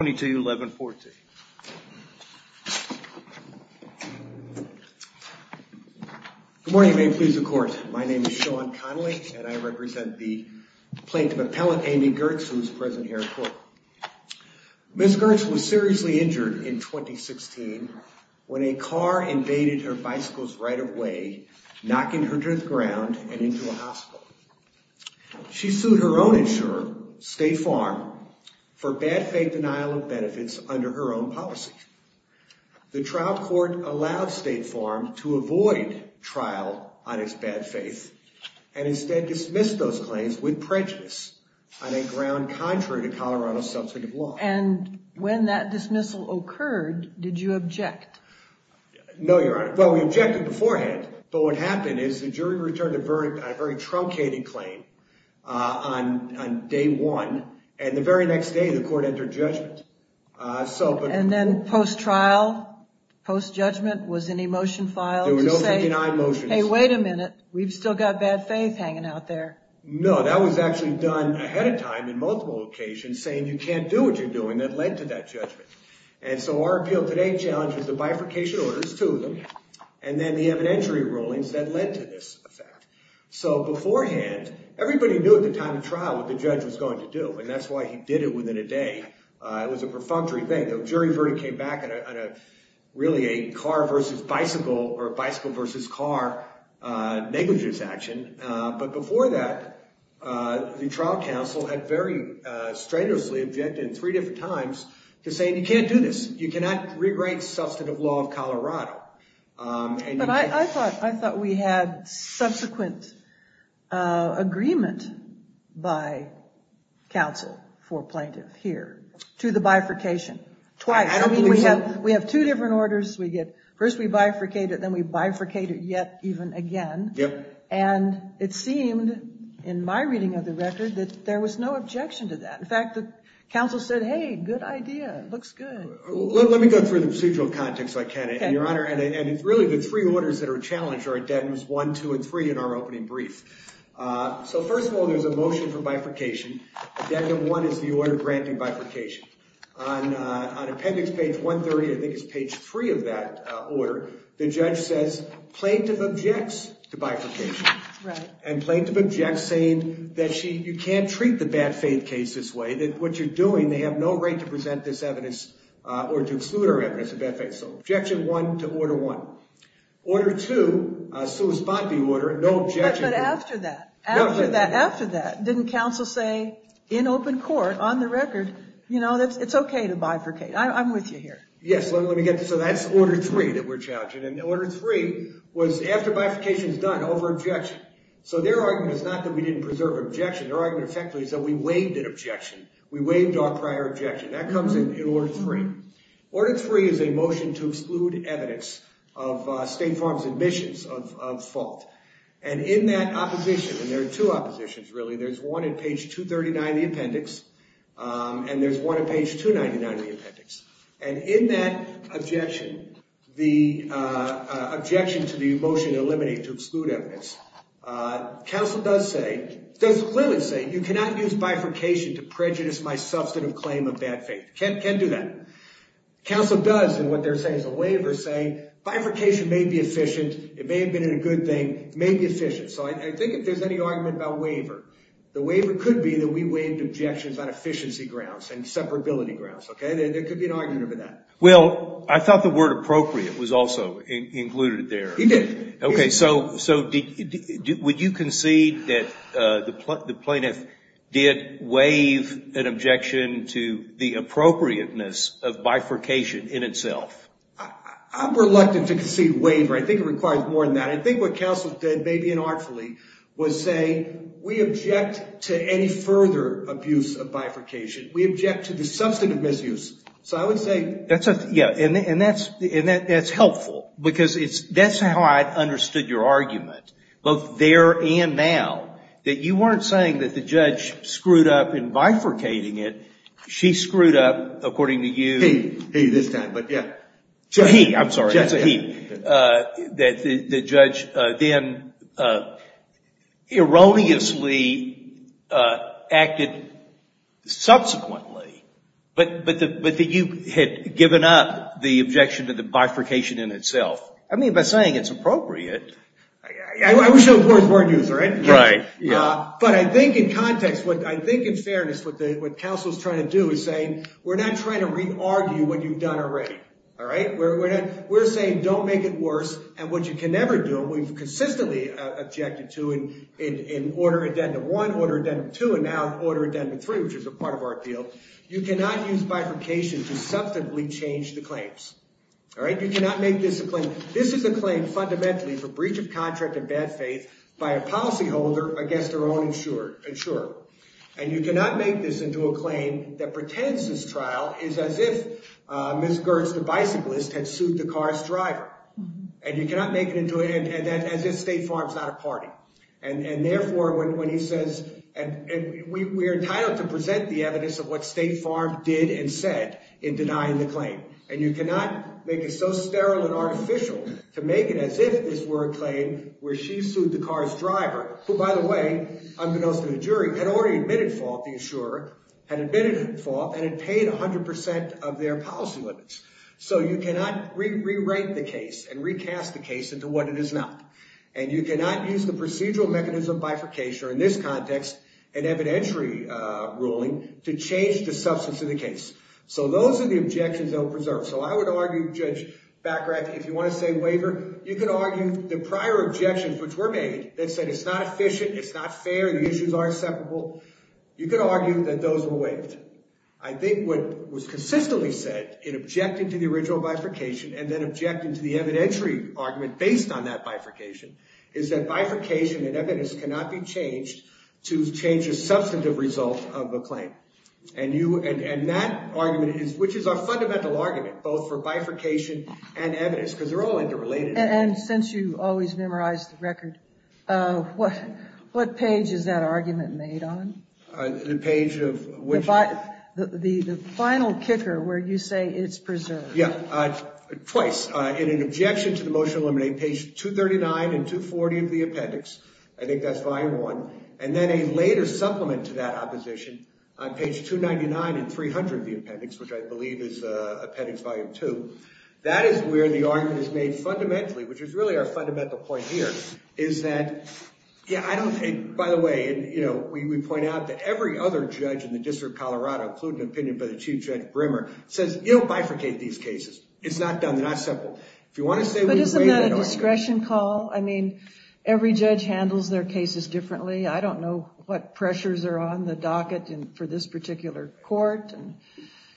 Good morning and may it please the court, my name is Sean Connolly and I represent the plaintiff appellate Amy Giertz who is present here at court. Ms. Giertz was seriously injured in 2016 when a car invaded her bicycle's right of way, knocking her to the ground and into a hospital. She sued her own insurer, State Farm, for bad faith denial of benefits under her own policy. The trial court allowed State Farm to avoid trial on its bad faith and instead dismissed those claims with prejudice on a ground contrary to Colorado's substantive law. And when that dismissal occurred, did you object? No, Your Honor. Well, we objected beforehand, but what happened is the jury returned a very truncated claim on day one, and the very next day the court entered judgment. And then post trial, post judgment, was any motion filed to say, hey wait a minute, we've still got bad faith hanging out there? No, that was actually done ahead of time in multiple occasions saying you can't do what you're doing that led to that judgment. And so our appeal today challenges the bifurcation orders, two of them, and then the evidentiary rulings that led to this effect. So beforehand, everybody knew at the time of trial what the judge was going to do, and that's why he did it within a day. It was a perfunctory thing. The jury verdict came back on a really a car versus bicycle or bicycle versus car negligence action. But before that, the trial counsel had very strenuously objected in three different times to saying you can't do this. You cannot rewrite substantive law of Colorado. But I thought we had subsequent agreement by counsel for plaintiff here to the bifurcation twice. We have two different orders. First we bifurcate it, then we bifurcate it yet even again. And it seemed in my reading of the record that there was no objection to that. In fact, the counsel said, hey, good idea. It looks good. Let me go through the procedural context, if I can, Your Honor. And it's really the three orders that are challenged are Addendums 1, 2, and 3 in our opening brief. So first of all, there's a motion for bifurcation. Addendum 1 is the order granting bifurcation. On appendix page 130, I think it's page 3 of that order, the judge says plaintiff objects to bifurcation. And plaintiff objects saying that you can't treat the bad faith case this way, that what you're doing, they have no right to present this evidence or to exclude our evidence of bad faith. So objection 1 to order 1. Order 2, a sua spot de order, no objection. But after that, after that, after that, didn't counsel say, in open court, on the record, you know, it's OK to bifurcate. I'm with you here. Yes, let me get this. So that's order 3 that we're challenging. And order 3 was after bifurcation is done, over objection. So their argument is not that we didn't preserve objection. Their argument effectively is that we waived an objection. We waived our prior objection. That comes in order 3. Order 3 is a motion to exclude evidence of State Farm's admissions of fault. And in that opposition, and there are two oppositions, really, there's one on page 239 of the appendix, and there's one on page 299 of the appendix. And in that objection, the objection to the motion to eliminate, to exclude evidence, counsel does say, does clearly say you cannot use bifurcation to prejudice my substantive claim of bad faith. Can't do that. Counsel does, in what they're saying is a waiver, say bifurcation may be efficient. It may have been a good thing. It may be efficient. So I think if there's any argument about waiver, the waiver could be that we waived objections on efficiency grounds and separability grounds. Okay? There could be an argument over that. Well, I thought the word appropriate was also included there. It did. Okay. So would you concede that the plaintiff did waive an objection to the appropriateness of bifurcation in itself? I'm reluctant to concede waiver. I think it requires more than that. I think what counsel did, maybe inartfully, was say we object to any further abuse of bifurcation. We object to the substantive misuse. So I would say. Yeah, and that's helpful because that's how I understood your argument, both there and now, that you weren't saying that the judge screwed up in bifurcating it. She screwed up, according to you. He, this time, but yeah. He. I'm sorry. Yes, he. That the judge then erroneously acted subsequently, but that you had given up the objection to the bifurcation in itself. I mean, by saying it's appropriate. I wish I was more of a word user. Right. But I think in context, I think in fairness, what counsel is trying to do is say we're not trying to re-argue what you've done already. All right? We're saying don't make it worse. And what you can never do, and we've consistently objected to in Order Addendum 1, Order Addendum 2, and now Order Addendum 3, which is a part of our appeal, you cannot use bifurcation to substantively change the claims. All right? You cannot make this a claim. This is a claim fundamentally for breach of contract and bad faith by a policyholder against their own insurer. And you cannot make this into a claim that pretends this trial is as if Ms. Gertz, the bicyclist, had sued the car's driver. And you cannot make it into a – as if State Farm's not a party. And therefore, when he says – and we're entitled to present the evidence of what State Farm did and said in denying the claim. And you cannot make it so sterile and artificial to make it as if this were a claim where she sued the car's driver, who, by the way, unbeknownst to the jury, had already admitted fault. The insurer had admitted fault and had paid 100 percent of their policy limits. So you cannot re-write the case and recast the case into what it is now. And you cannot use the procedural mechanism of bifurcation or, in this context, an evidentiary ruling to change the substance of the case. So those are the objections that we'll preserve. So I would argue, Judge Baccarat, that if you want to say waiver, you can argue the prior objections which were made that said it's not efficient, it's not fair, the issues are inseparable, you can argue that those were waived. I think what was consistently said in objecting to the original bifurcation and then objecting to the evidentiary argument based on that bifurcation is that bifurcation and evidence cannot be changed to change the substantive result of a claim. And that argument is – which is our fundamental argument, both for bifurcation and evidence, because they're all interrelated. And since you always memorize the record, what page is that argument made on? The page of which? The final kicker where you say it's preserved. Yeah, twice. In an objection to the motion to eliminate, page 239 and 240 of the appendix. I think that's volume one. And then a later supplement to that opposition on page 299 and 300 of the appendix, which I believe is appendix volume two. That is where the argument is made fundamentally, which is really our fundamental point here. By the way, we point out that every other judge in the District of Colorado, including an opinion by the Chief Judge Brimmer, says you don't bifurcate these cases. It's not done, they're not separate. But isn't that a discretion call? I mean, every judge handles their cases differently. I don't know what pressures are on the docket for this particular court.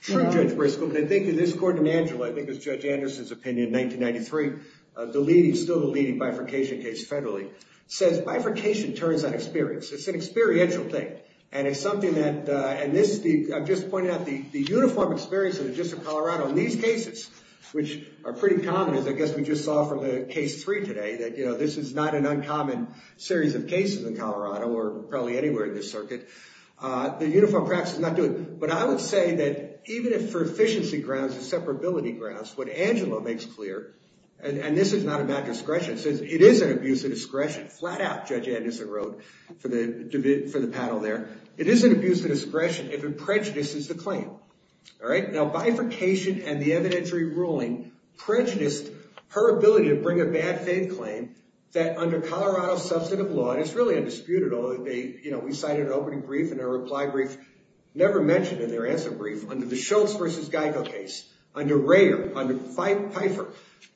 True, Judge Briscoe, but I think that this court in Angela, I think it was Judge Anderson's opinion in 1993, still the leading bifurcation case federally, says bifurcation turns on experience. It's an experiential thing. And I'm just pointing out the uniform experience of the District of Colorado in these cases, which are pretty common, as I guess we just saw from the case three today, that this is not an uncommon series of cases in Colorado or probably anywhere in this circuit. The uniform practice is not doing it. But I would say that even for efficiency grounds and separability grounds, what Angela makes clear, and this is not a bad discretion, says it is an abuse of discretion. Flat out, Judge Anderson wrote for the panel there. It is an abuse of discretion if it prejudices the claim. All right? Now, bifurcation and the evidentiary ruling prejudiced her ability to bring a bad faith claim that under Colorado substantive law, and it's really undisputed, although we cited an opening brief and a reply brief. Never mentioned in their answer brief, under the Schultz versus Geico case, under Rayer, under Pfeiffer,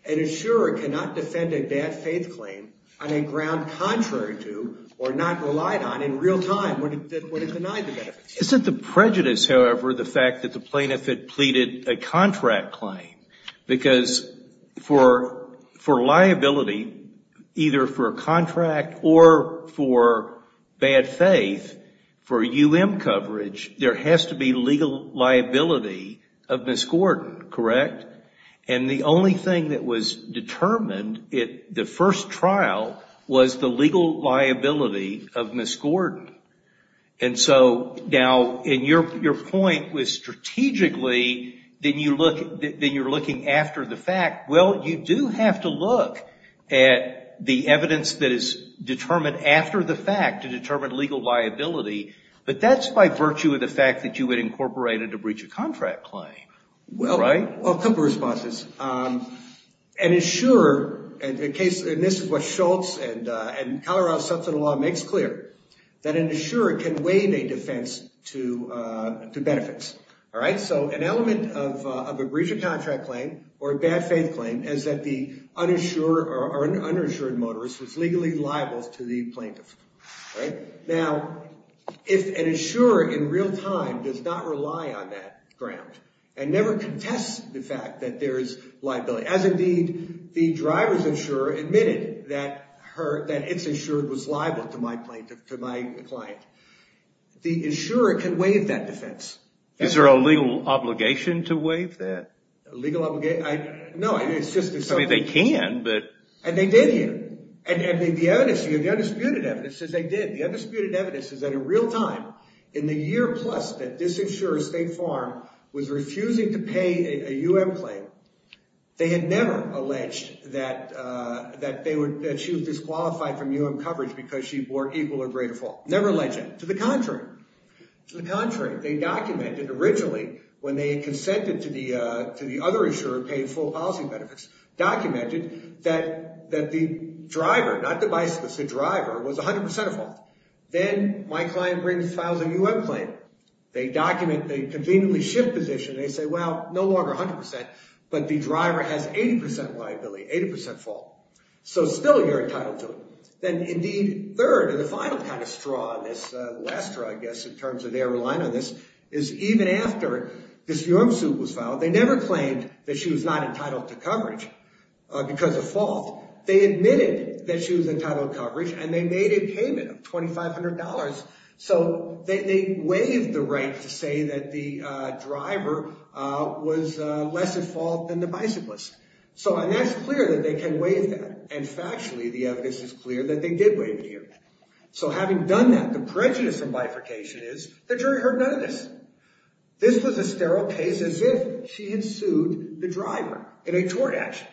an insurer cannot defend a bad faith claim on a ground contrary to or not relied on in real time when it denied the benefits. Isn't the prejudice, however, the fact that the plaintiff had pleaded a contract claim? Because for liability, either for a contract or for bad faith, for UM coverage, there has to be legal liability of Miss Gordon. Correct? And the only thing that was determined at the first trial was the legal liability of Miss Gordon. And so now, and your point was strategically, then you're looking after the fact. Well, you do have to look at the evidence that is determined after the fact to determine legal liability, but that's by virtue of the fact that you had incorporated a breach of contract claim. Right? Well, a couple of responses. An insurer, and this is what Schultz and Colorado substantive law makes clear, that an insurer can waive a defense to benefits. All right? So an element of a breach of contract claim or a bad faith claim is that the uninsured motorist was legally liable to the plaintiff. Now, if an insurer in real time does not rely on that ground and never contests the fact that there is liability, as indeed the driver's insurer admitted that it's insured was liable to my client. The insurer can waive that defense. Is there a legal obligation to waive that? Legal obligation? No, it's just. I mean, they can, but. And they did here. And the evidence, the undisputed evidence says they did. The undisputed evidence is that in real time, in the year plus that this insurer, State Farm, was refusing to pay a UM claim, they had never alleged that she was disqualified from UM coverage because she bore equal or greater fault. To the contrary. They documented originally when they consented to the other insurer paying full policy benefits, documented that the driver, not the bicyclist, the driver was 100% at fault. Then my client brings, files a UM claim. They document, they conveniently shift position. They say, well, no longer 100%, but the driver has 80% liability, 80% fault. So still you're entitled to it. Then, indeed, third and the final kind of straw on this, the last straw, I guess, in terms of their reliance on this, is even after this UM suit was filed, they never claimed that she was not entitled to coverage because of fault. They admitted that she was entitled to coverage, and they made a payment of $2,500. So they waived the right to say that the driver was less at fault than the bicyclist. So, and that's clear that they can waive that. And factually, the evidence is clear that they did waive it here. So having done that, the prejudice from bifurcation is the jury heard none of this. This was a sterile case as if she had sued the driver in a tort action.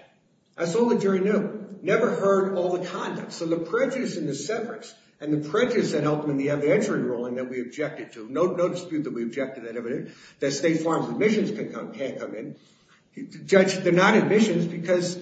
That's all the jury knew. Never heard all the conduct. So the prejudice in the severance and the prejudice that helped them in the entry ruling that we objected to, no dispute that we objected to that evidence, that State Farm's admissions can't come in. Judge, they're not admissions because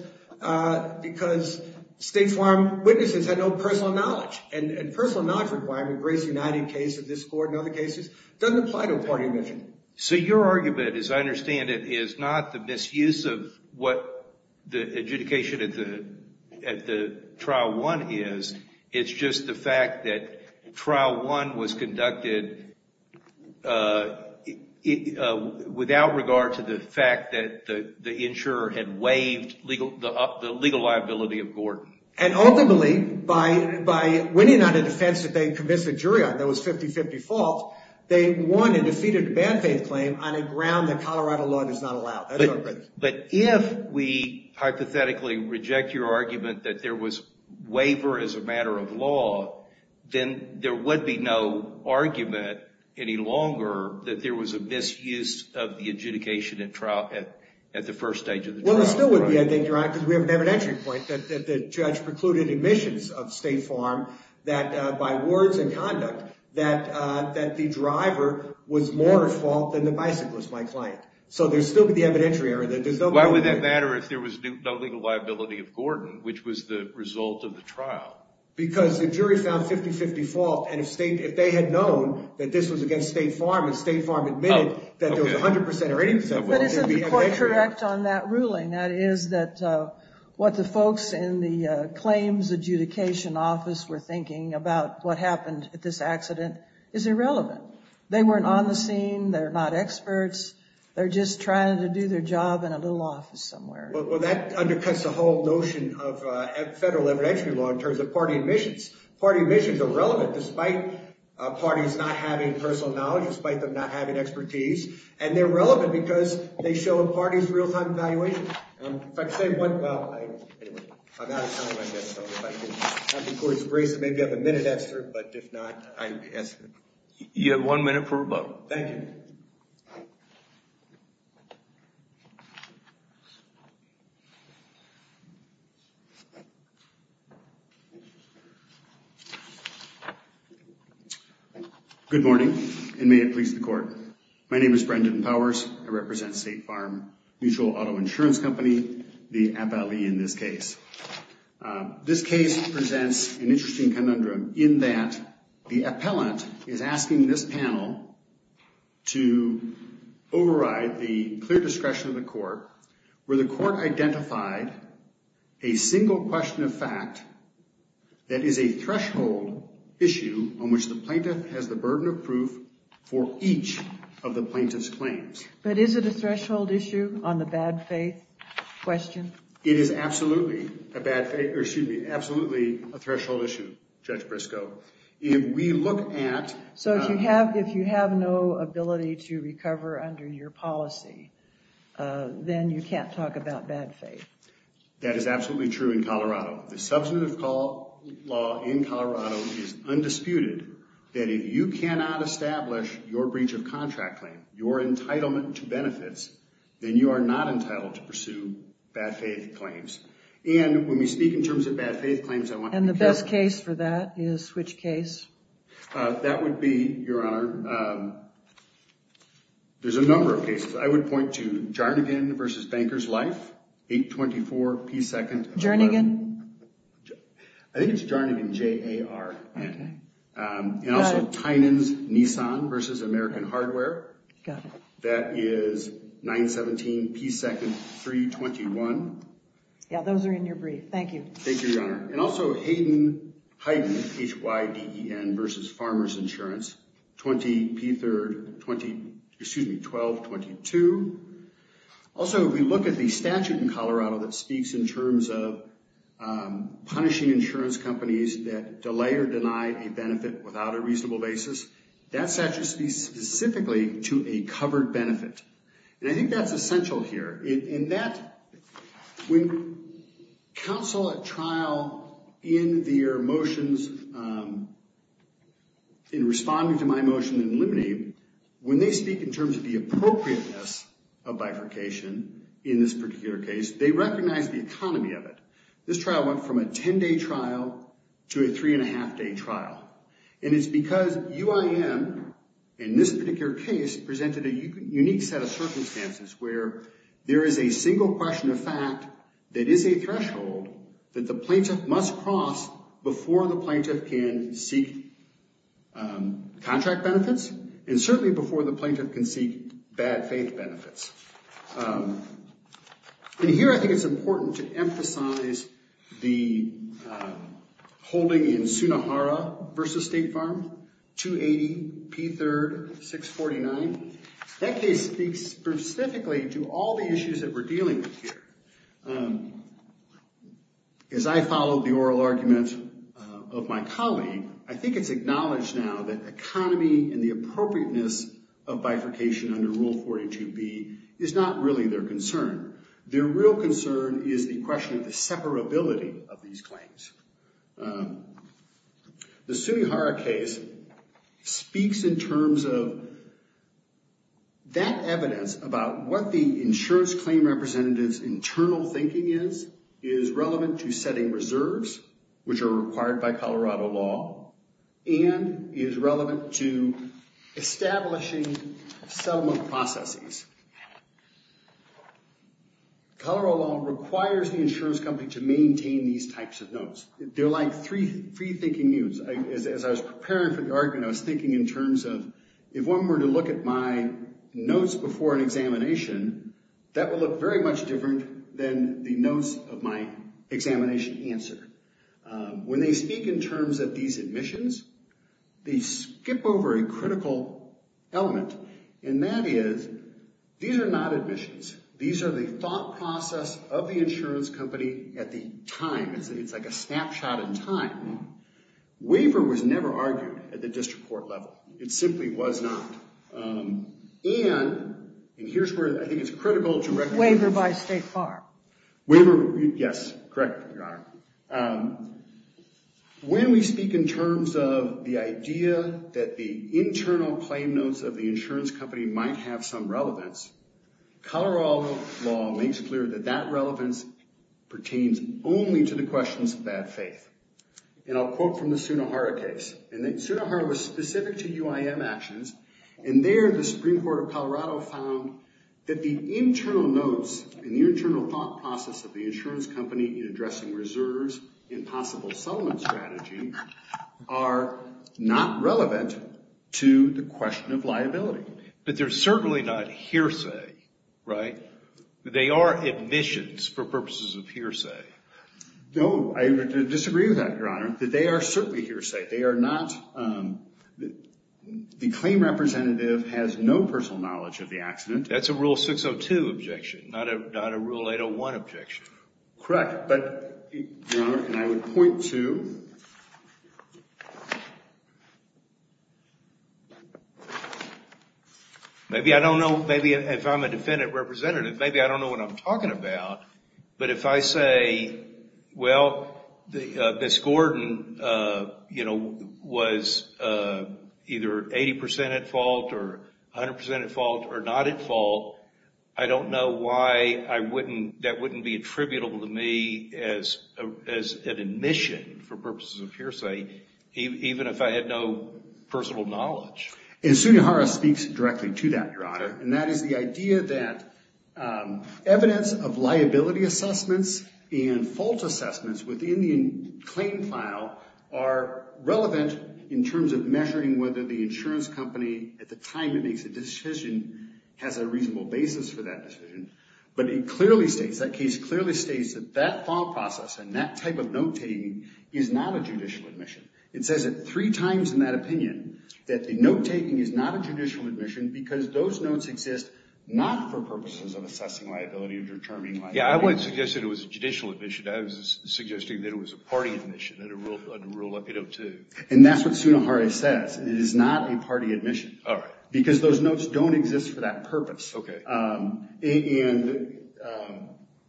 State Farm witnesses had no personal knowledge. And personal knowledge requirement, Grace United case of this court and other cases, doesn't apply to a party admission. So your argument, as I understand it, is not the misuse of what the adjudication at the trial one is. It's just the fact that trial one was conducted without regard to the fact that the insurer had waived the legal liability of Gordon. And ultimately, by winning on a defense that they convinced the jury on that was 50-50 fault, they won and defeated a bad faith claim on a ground that Colorado law does not allow. But if we hypothetically reject your argument that there was waiver as a matter of law, then there would be no argument any longer that there was a misuse of the adjudication at the first stage of the trial. Well, there still would be, I think, Your Honor, because we have an evidentiary point that the judge precluded admissions of State Farm that, by words and conduct, that the driver was more at fault than the bicyclist, my client. So there would still be the evidentiary error. Why would that matter if there was no legal liability of Gordon, which was the result of the trial? Because the jury found 50-50 fault, and if they had known that this was against State Farm, and State Farm admitted that there was 100% or 80%... But isn't the court correct on that ruling? That is that what the folks in the claims adjudication office were thinking about what happened at this accident is irrelevant. They weren't on the scene, they're not experts, they're just trying to do their job in a little office somewhere. Well, that undercuts the whole notion of federal evidentiary law in terms of party admissions. Party admissions are relevant, despite parties not having personal knowledge, despite them not having expertise. And they're relevant because they show a party's real-time evaluation. If I could say one... Well, anyway, I'm out of time, I guess, so if I could have the court's grace to make up a minute, Esther, but if not, I... You have one minute for rebuttal. Thank you. Good morning, and may it please the court. My name is Brendan Powers, I represent State Farm Mutual Auto Insurance Company, the appellee in this case. This case presents an interesting conundrum in that the appellant is asking this panel to override the clear discretion of the court, where the court identified a single question of fact that is a threshold issue on which the plaintiff has the burden of proof for each of the plaintiff's claims. But is it a threshold issue on the bad faith question? It is absolutely a bad faith, or excuse me, absolutely a threshold issue, Judge Briscoe. If we look at... So if you have no ability to recover under your policy, then you can't talk about bad faith? That is absolutely true in Colorado. The substantive law in Colorado is undisputed that if you cannot establish your breach of contract claim, your entitlement to benefits, then you are not entitled to pursue bad faith claims. And when we speak in terms of bad faith claims, I want you to... And the best case for that is which case? That would be, Your Honor, there's a number of cases. I would point to Jarnagin v. Bankers Life, 824 P. 2nd... Jarnagin? I think it's Jarnagin, J-A-R-N. Got it. And also Tynan's Nissan v. American Hardware. Got it. That is 917 P. 2nd, 321. Yeah, those are in your brief. Thank you. Thank you, Your Honor. And also Hayden, H-Y-D-E-N v. Farmers Insurance, 20 P. 3rd, 1222. Also, if we look at the statute in Colorado that speaks in terms of punishing insurance companies that delay or deny a benefit without a reasonable basis, that statute speaks specifically to a covered benefit. And I think that's essential here. And that, when counsel at trial in their motions in responding to my motion in limine, when they speak in terms of the appropriateness of bifurcation in this particular case, they recognize the economy of it. This trial went from a 10-day trial to a three-and-a-half-day trial. And it's because UIM, in this particular case, presented a unique set of circumstances, where there is a single question of fact that is a threshold that the plaintiff must cross before the plaintiff can seek contract benefits, and certainly before the plaintiff can seek bad faith benefits. And here I think it's important to emphasize the holding in Sunnahara v. State Farm, 280 P. 3rd, 649. That case speaks specifically to all the issues that we're dealing with here. As I follow the oral argument of my colleague, I think it's acknowledged now that economy and the appropriateness of bifurcation under Rule 42B is not really their concern. Their real concern is the question of the separability of these claims. The Sunnahara case speaks in terms of that evidence about what the insurance claim representative's internal thinking is, is relevant to setting reserves, which are required by Colorado law, and is relevant to establishing settlement processes. Colorado law requires the insurance company to maintain these types of notes. They're like free-thinking nudes. As I was preparing for the argument, I was thinking in terms of, if one were to look at my notes before an examination, that would look very much different than the notes of my examination answer. When they speak in terms of these admissions, they skip over a critical element, and that is, these are not admissions. These are the thought process of the insurance company at the time. It's like a snapshot in time. Waiver was never argued at the district court level. It simply was not. And here's where I think it's critical to recognize... Waiver by State Farm. Yes, correct, Your Honor. When we speak in terms of the idea that the internal claim notes of the insurance company might have some relevance, Colorado law makes clear that that relevance pertains only to the questions of bad faith. And I'll quote from the Sunnahara case. Sunnahara was specific to UIM actions, and there the Supreme Court of Colorado found that the internal notes and the internal thought process of the insurance company in addressing reserves and possible settlement strategy are not relevant to the question of liability. But they're certainly not hearsay, right? They are admissions for purposes of hearsay. No, I disagree with that, Your Honor. They are certainly hearsay. They are not... The claim representative has no personal knowledge of the accident. That's a Rule 602 objection, not a Rule 801 objection. Correct, but, Your Honor, and I would point to... Maybe I don't know... Maybe if I'm a defendant representative, maybe I don't know what I'm talking about. But if I say, well, Miss Gordon, you know, was either 80% at fault or 100% at fault or not at fault, I don't know why that wouldn't be attributable to me as an admission for purposes of hearsay, even if I had no personal knowledge. And Sunnahara speaks directly to that, Your Honor. And that is the idea that evidence of liability assessments and fault assessments within the claim file are relevant in terms of measuring whether the insurance company, at the time it makes a decision, has a reasonable basis for that decision. But it clearly states, that case clearly states that that thought process and that type of note-taking is not a judicial admission. It says it three times in that opinion, that the note-taking is not a judicial admission because those notes exist not for purposes of assessing liability or determining liability. Yeah, I wasn't suggesting it was a judicial admission. I was suggesting that it was a party admission, under Rule 802. And that's what Sunnahara says. It is not a party admission. All right. Because those notes don't exist for that purpose. Okay. And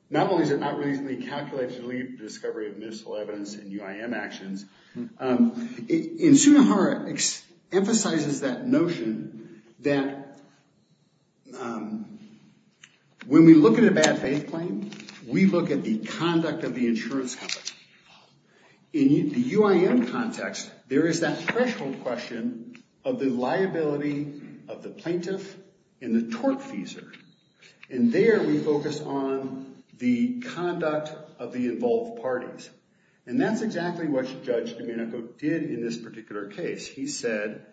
not only is it not reasonably calculated to lead to discovery of miscellaneous evidence in UIM actions, Sunnahara emphasizes that notion that when we look at a bad faith claim, we look at the conduct of the insurance company. In the UIM context, there is that threshold question of the liability of the plaintiff and the tortfeasor. And there we focus on the conduct of the involved parties. And that's exactly what Judge Domenico did in this particular case. He said,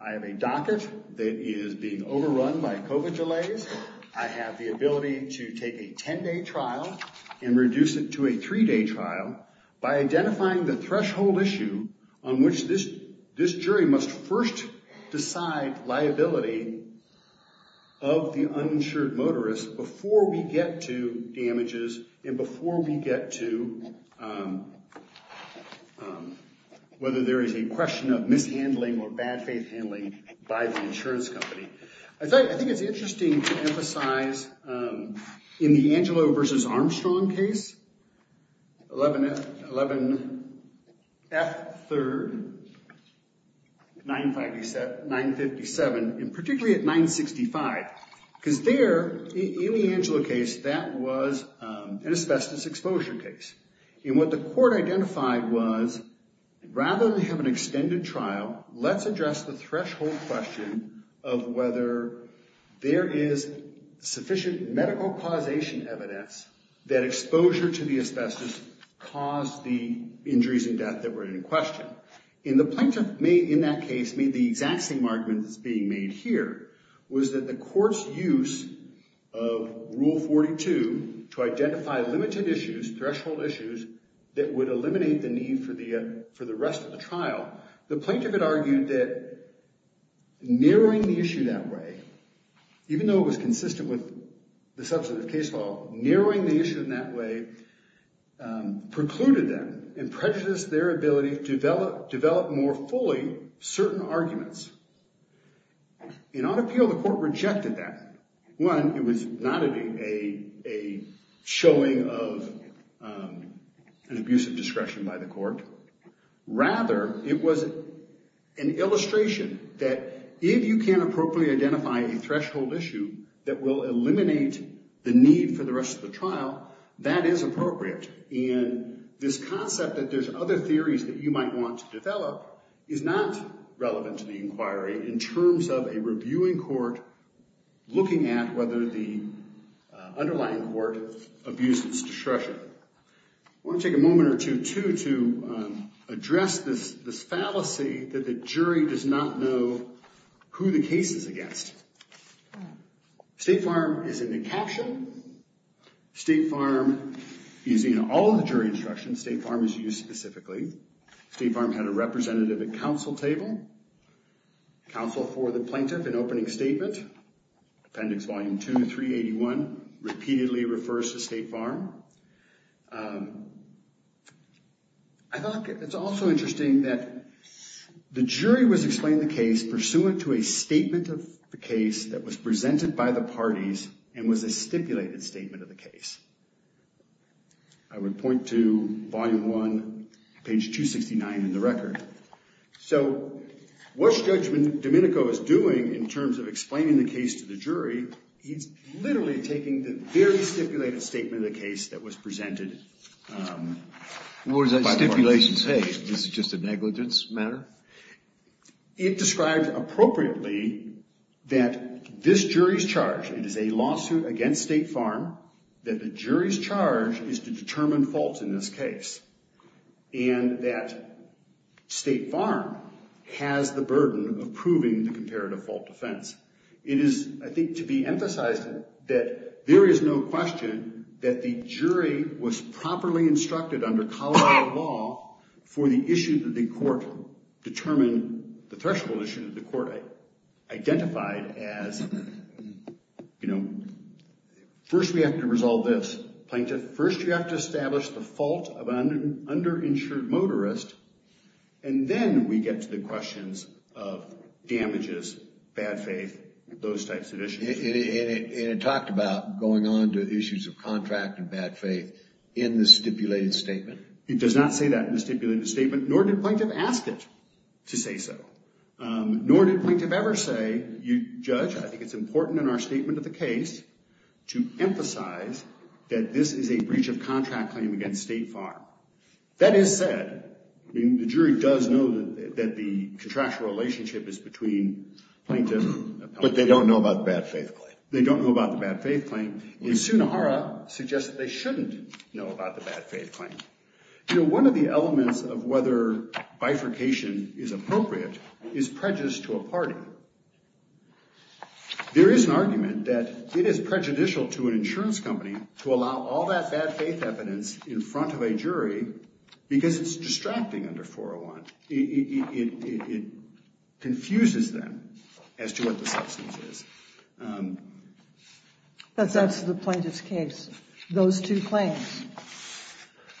I have a docket that is being overrun by COVID delays. I have the ability to take a 10-day trial and reduce it to a 3-day trial by identifying the threshold issue on which this jury must first decide liability of the uninsured motorist before we get to damages and before we get to whether there is a question of mishandling or bad faith handling by the insurance company. I think it's interesting to emphasize in the Angelo v. Armstrong case, 11F3rd 957, and particularly at 965, because there, in the Angelo case, that was an asbestos exposure case. And what the court identified was, rather than have an extended trial, let's address the threshold question of whether there is sufficient medical causation evidence that exposure to the asbestos caused the injuries and death that were in question. And the plaintiff, in that case, made the exact same argument that's being made here, was that the court's use of Rule 42 to identify limited issues, threshold issues, that would eliminate the need for the rest of the trial. The plaintiff had argued that narrowing the issue that way, even though it was consistent with the substantive case law, narrowing the issue in that way precluded them and prejudiced their ability to develop more fully certain arguments. In our appeal, the court rejected that. One, it was not a showing of an abuse of discretion by the court. Rather, it was an illustration that if you can't appropriately identify a threshold issue that will eliminate the need for the rest of the trial, that is appropriate. And this concept that there's other theories that you might want to develop is not relevant to the inquiry in terms of a reviewing court looking at whether the underlying court abuses discretion. I want to take a moment or two to address this fallacy that the jury does not know who the case is against. State Farm is in the caption. State Farm, using all of the jury instructions, State Farm is used specifically. State Farm had a representative at counsel table. Counsel for the plaintiff in opening statement, appendix volume 2, 381, repeatedly refers to State Farm. I thought it was also interesting that the jury was explaining the case pursuant to a statement of the case that was presented by the parties and was a stipulated statement of the case. I would point to volume 1, page 269 in the record. So what Judge Domenico is doing in terms of explaining the case to the jury, he's literally taking the very stipulated statement of the case that was presented. What does that stipulation say? This is just a negligence matter? It describes appropriately that this jury's charge, it is a lawsuit against State Farm, that the jury's charge is to determine faults in this case and that State Farm has the burden of proving the comparative fault defense. It is, I think, to be emphasized that there is no question that the jury was properly instructed under Colorado law for the issue that the court determined, the threshold issue that the court identified as, you know, first we have to resolve this, plaintiff. First we have to establish the fault of an underinsured motorist and then we get to the questions of damages, bad faith, those types of issues. And it talked about going on to issues of contract and bad faith in the stipulated statement? It does not say that in the stipulated statement, nor did plaintiff ask it to say so. Nor did plaintiff ever say, Judge, I think it's important in our statement of the case to emphasize that this is a breach of contract claim against State Farm. That is said, I mean, the jury does know that the contractual relationship is between plaintiff and plaintiff. But they don't know about the bad faith claim. They don't know about the bad faith claim. And Sunnahara suggests that they shouldn't know about the bad faith claim. You know, one of the elements of whether bifurcation is appropriate is prejudice to a party. There is an argument that it is prejudicial to an insurance company to allow all that bad faith evidence in front of a jury because it's distracting under 401. It confuses them as to what the substance is. But that's the plaintiff's case, those two claims.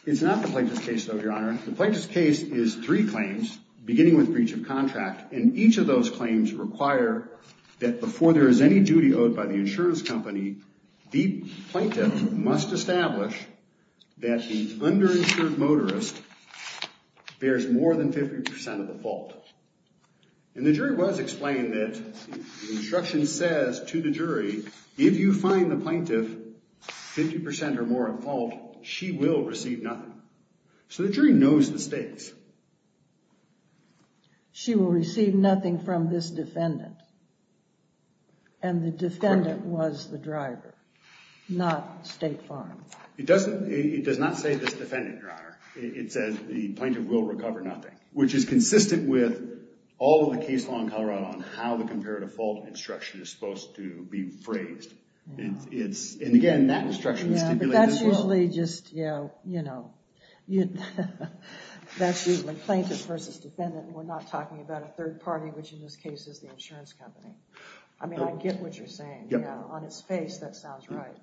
It's not the plaintiff's case, though, Your Honor. The plaintiff's case is three claims, beginning with breach of contract. And each of those claims require that before there is any duty owed by the insurance company, the plaintiff must establish that the underinsured motorist bears more than 50% of the fault. And the jury was explained that the instruction says to the jury, if you find the plaintiff 50% or more at fault, she will receive nothing. So the jury knows the stakes. She will receive nothing from this defendant. And the defendant was the driver, not State Farm. It does not say this defendant, Your Honor. It says the plaintiff will recover nothing, which is consistent with all of the case law in Colorado on how the comparative fault instruction is supposed to be phrased. And again, that instruction stipulates this rule. Yeah, but that's usually just, you know, that's usually plaintiff versus defendant. We're not talking about a third party, which in this case is the insurance company. I mean, I get what you're saying. On its face, that sounds right.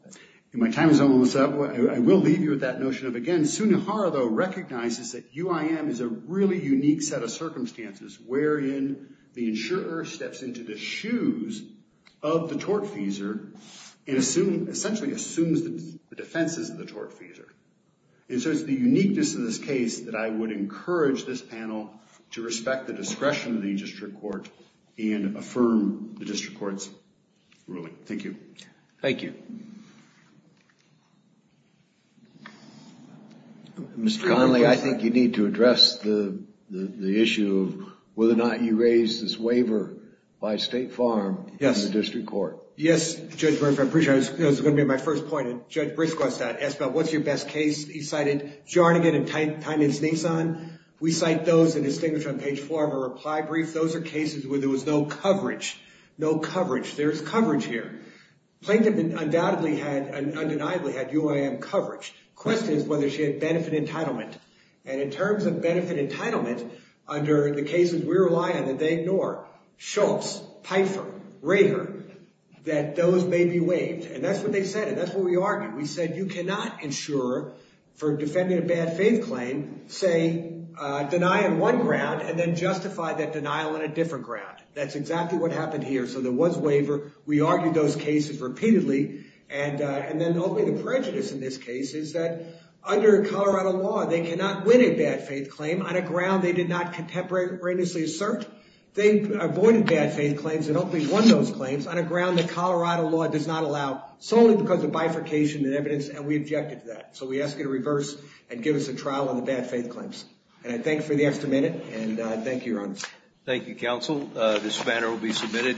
My time is almost up. I will leave you with that notion of, again, Sunihara, though, recognizes that UIM is a really unique set of circumstances wherein the insurer steps into the shoes of the tortfeasor and essentially assumes the defenses of the tortfeasor. And so it's the uniqueness of this case that I would encourage this panel to respect the discretion of the district court and affirm the district court's ruling. Thank you. Thank you. Mr. Connolly, I think you need to address the issue of whether or not you raised this waiver by State Farm in the district court. Yes, Judge Bernfeldt. I appreciate it. That was going to be my first point. And Judge Briscoe asked about what's your best case. He cited Jarnigan and Tynan's Nissan. We cite those that are distinguished on page four of our reply brief. Those are cases where there was no coverage. No coverage. There's coverage here. Plankton undeniably had UIM coverage. The question is whether she had benefit entitlement. And in terms of benefit entitlement, under the cases we rely on that they ignore, Schultz, Pfeiffer, Rager, that those may be waived. And that's what they said, and that's what we argued. We said you cannot ensure for defending a bad faith claim, say, deny on one ground and then justify that denial on a different ground. That's exactly what happened here. So there was waiver. We argued those cases repeatedly. And then ultimately the prejudice in this case is that under Colorado law, they cannot win a bad faith claim on a ground they did not contemporaneously assert. They avoided bad faith claims and ultimately won those claims on a ground that and we objected to that. So we ask you to reverse and give us a trial on the bad faith claims. And I thank you for the extra minute, and thank you, Your Honors. Thank you, Counsel. This banner will be submitted.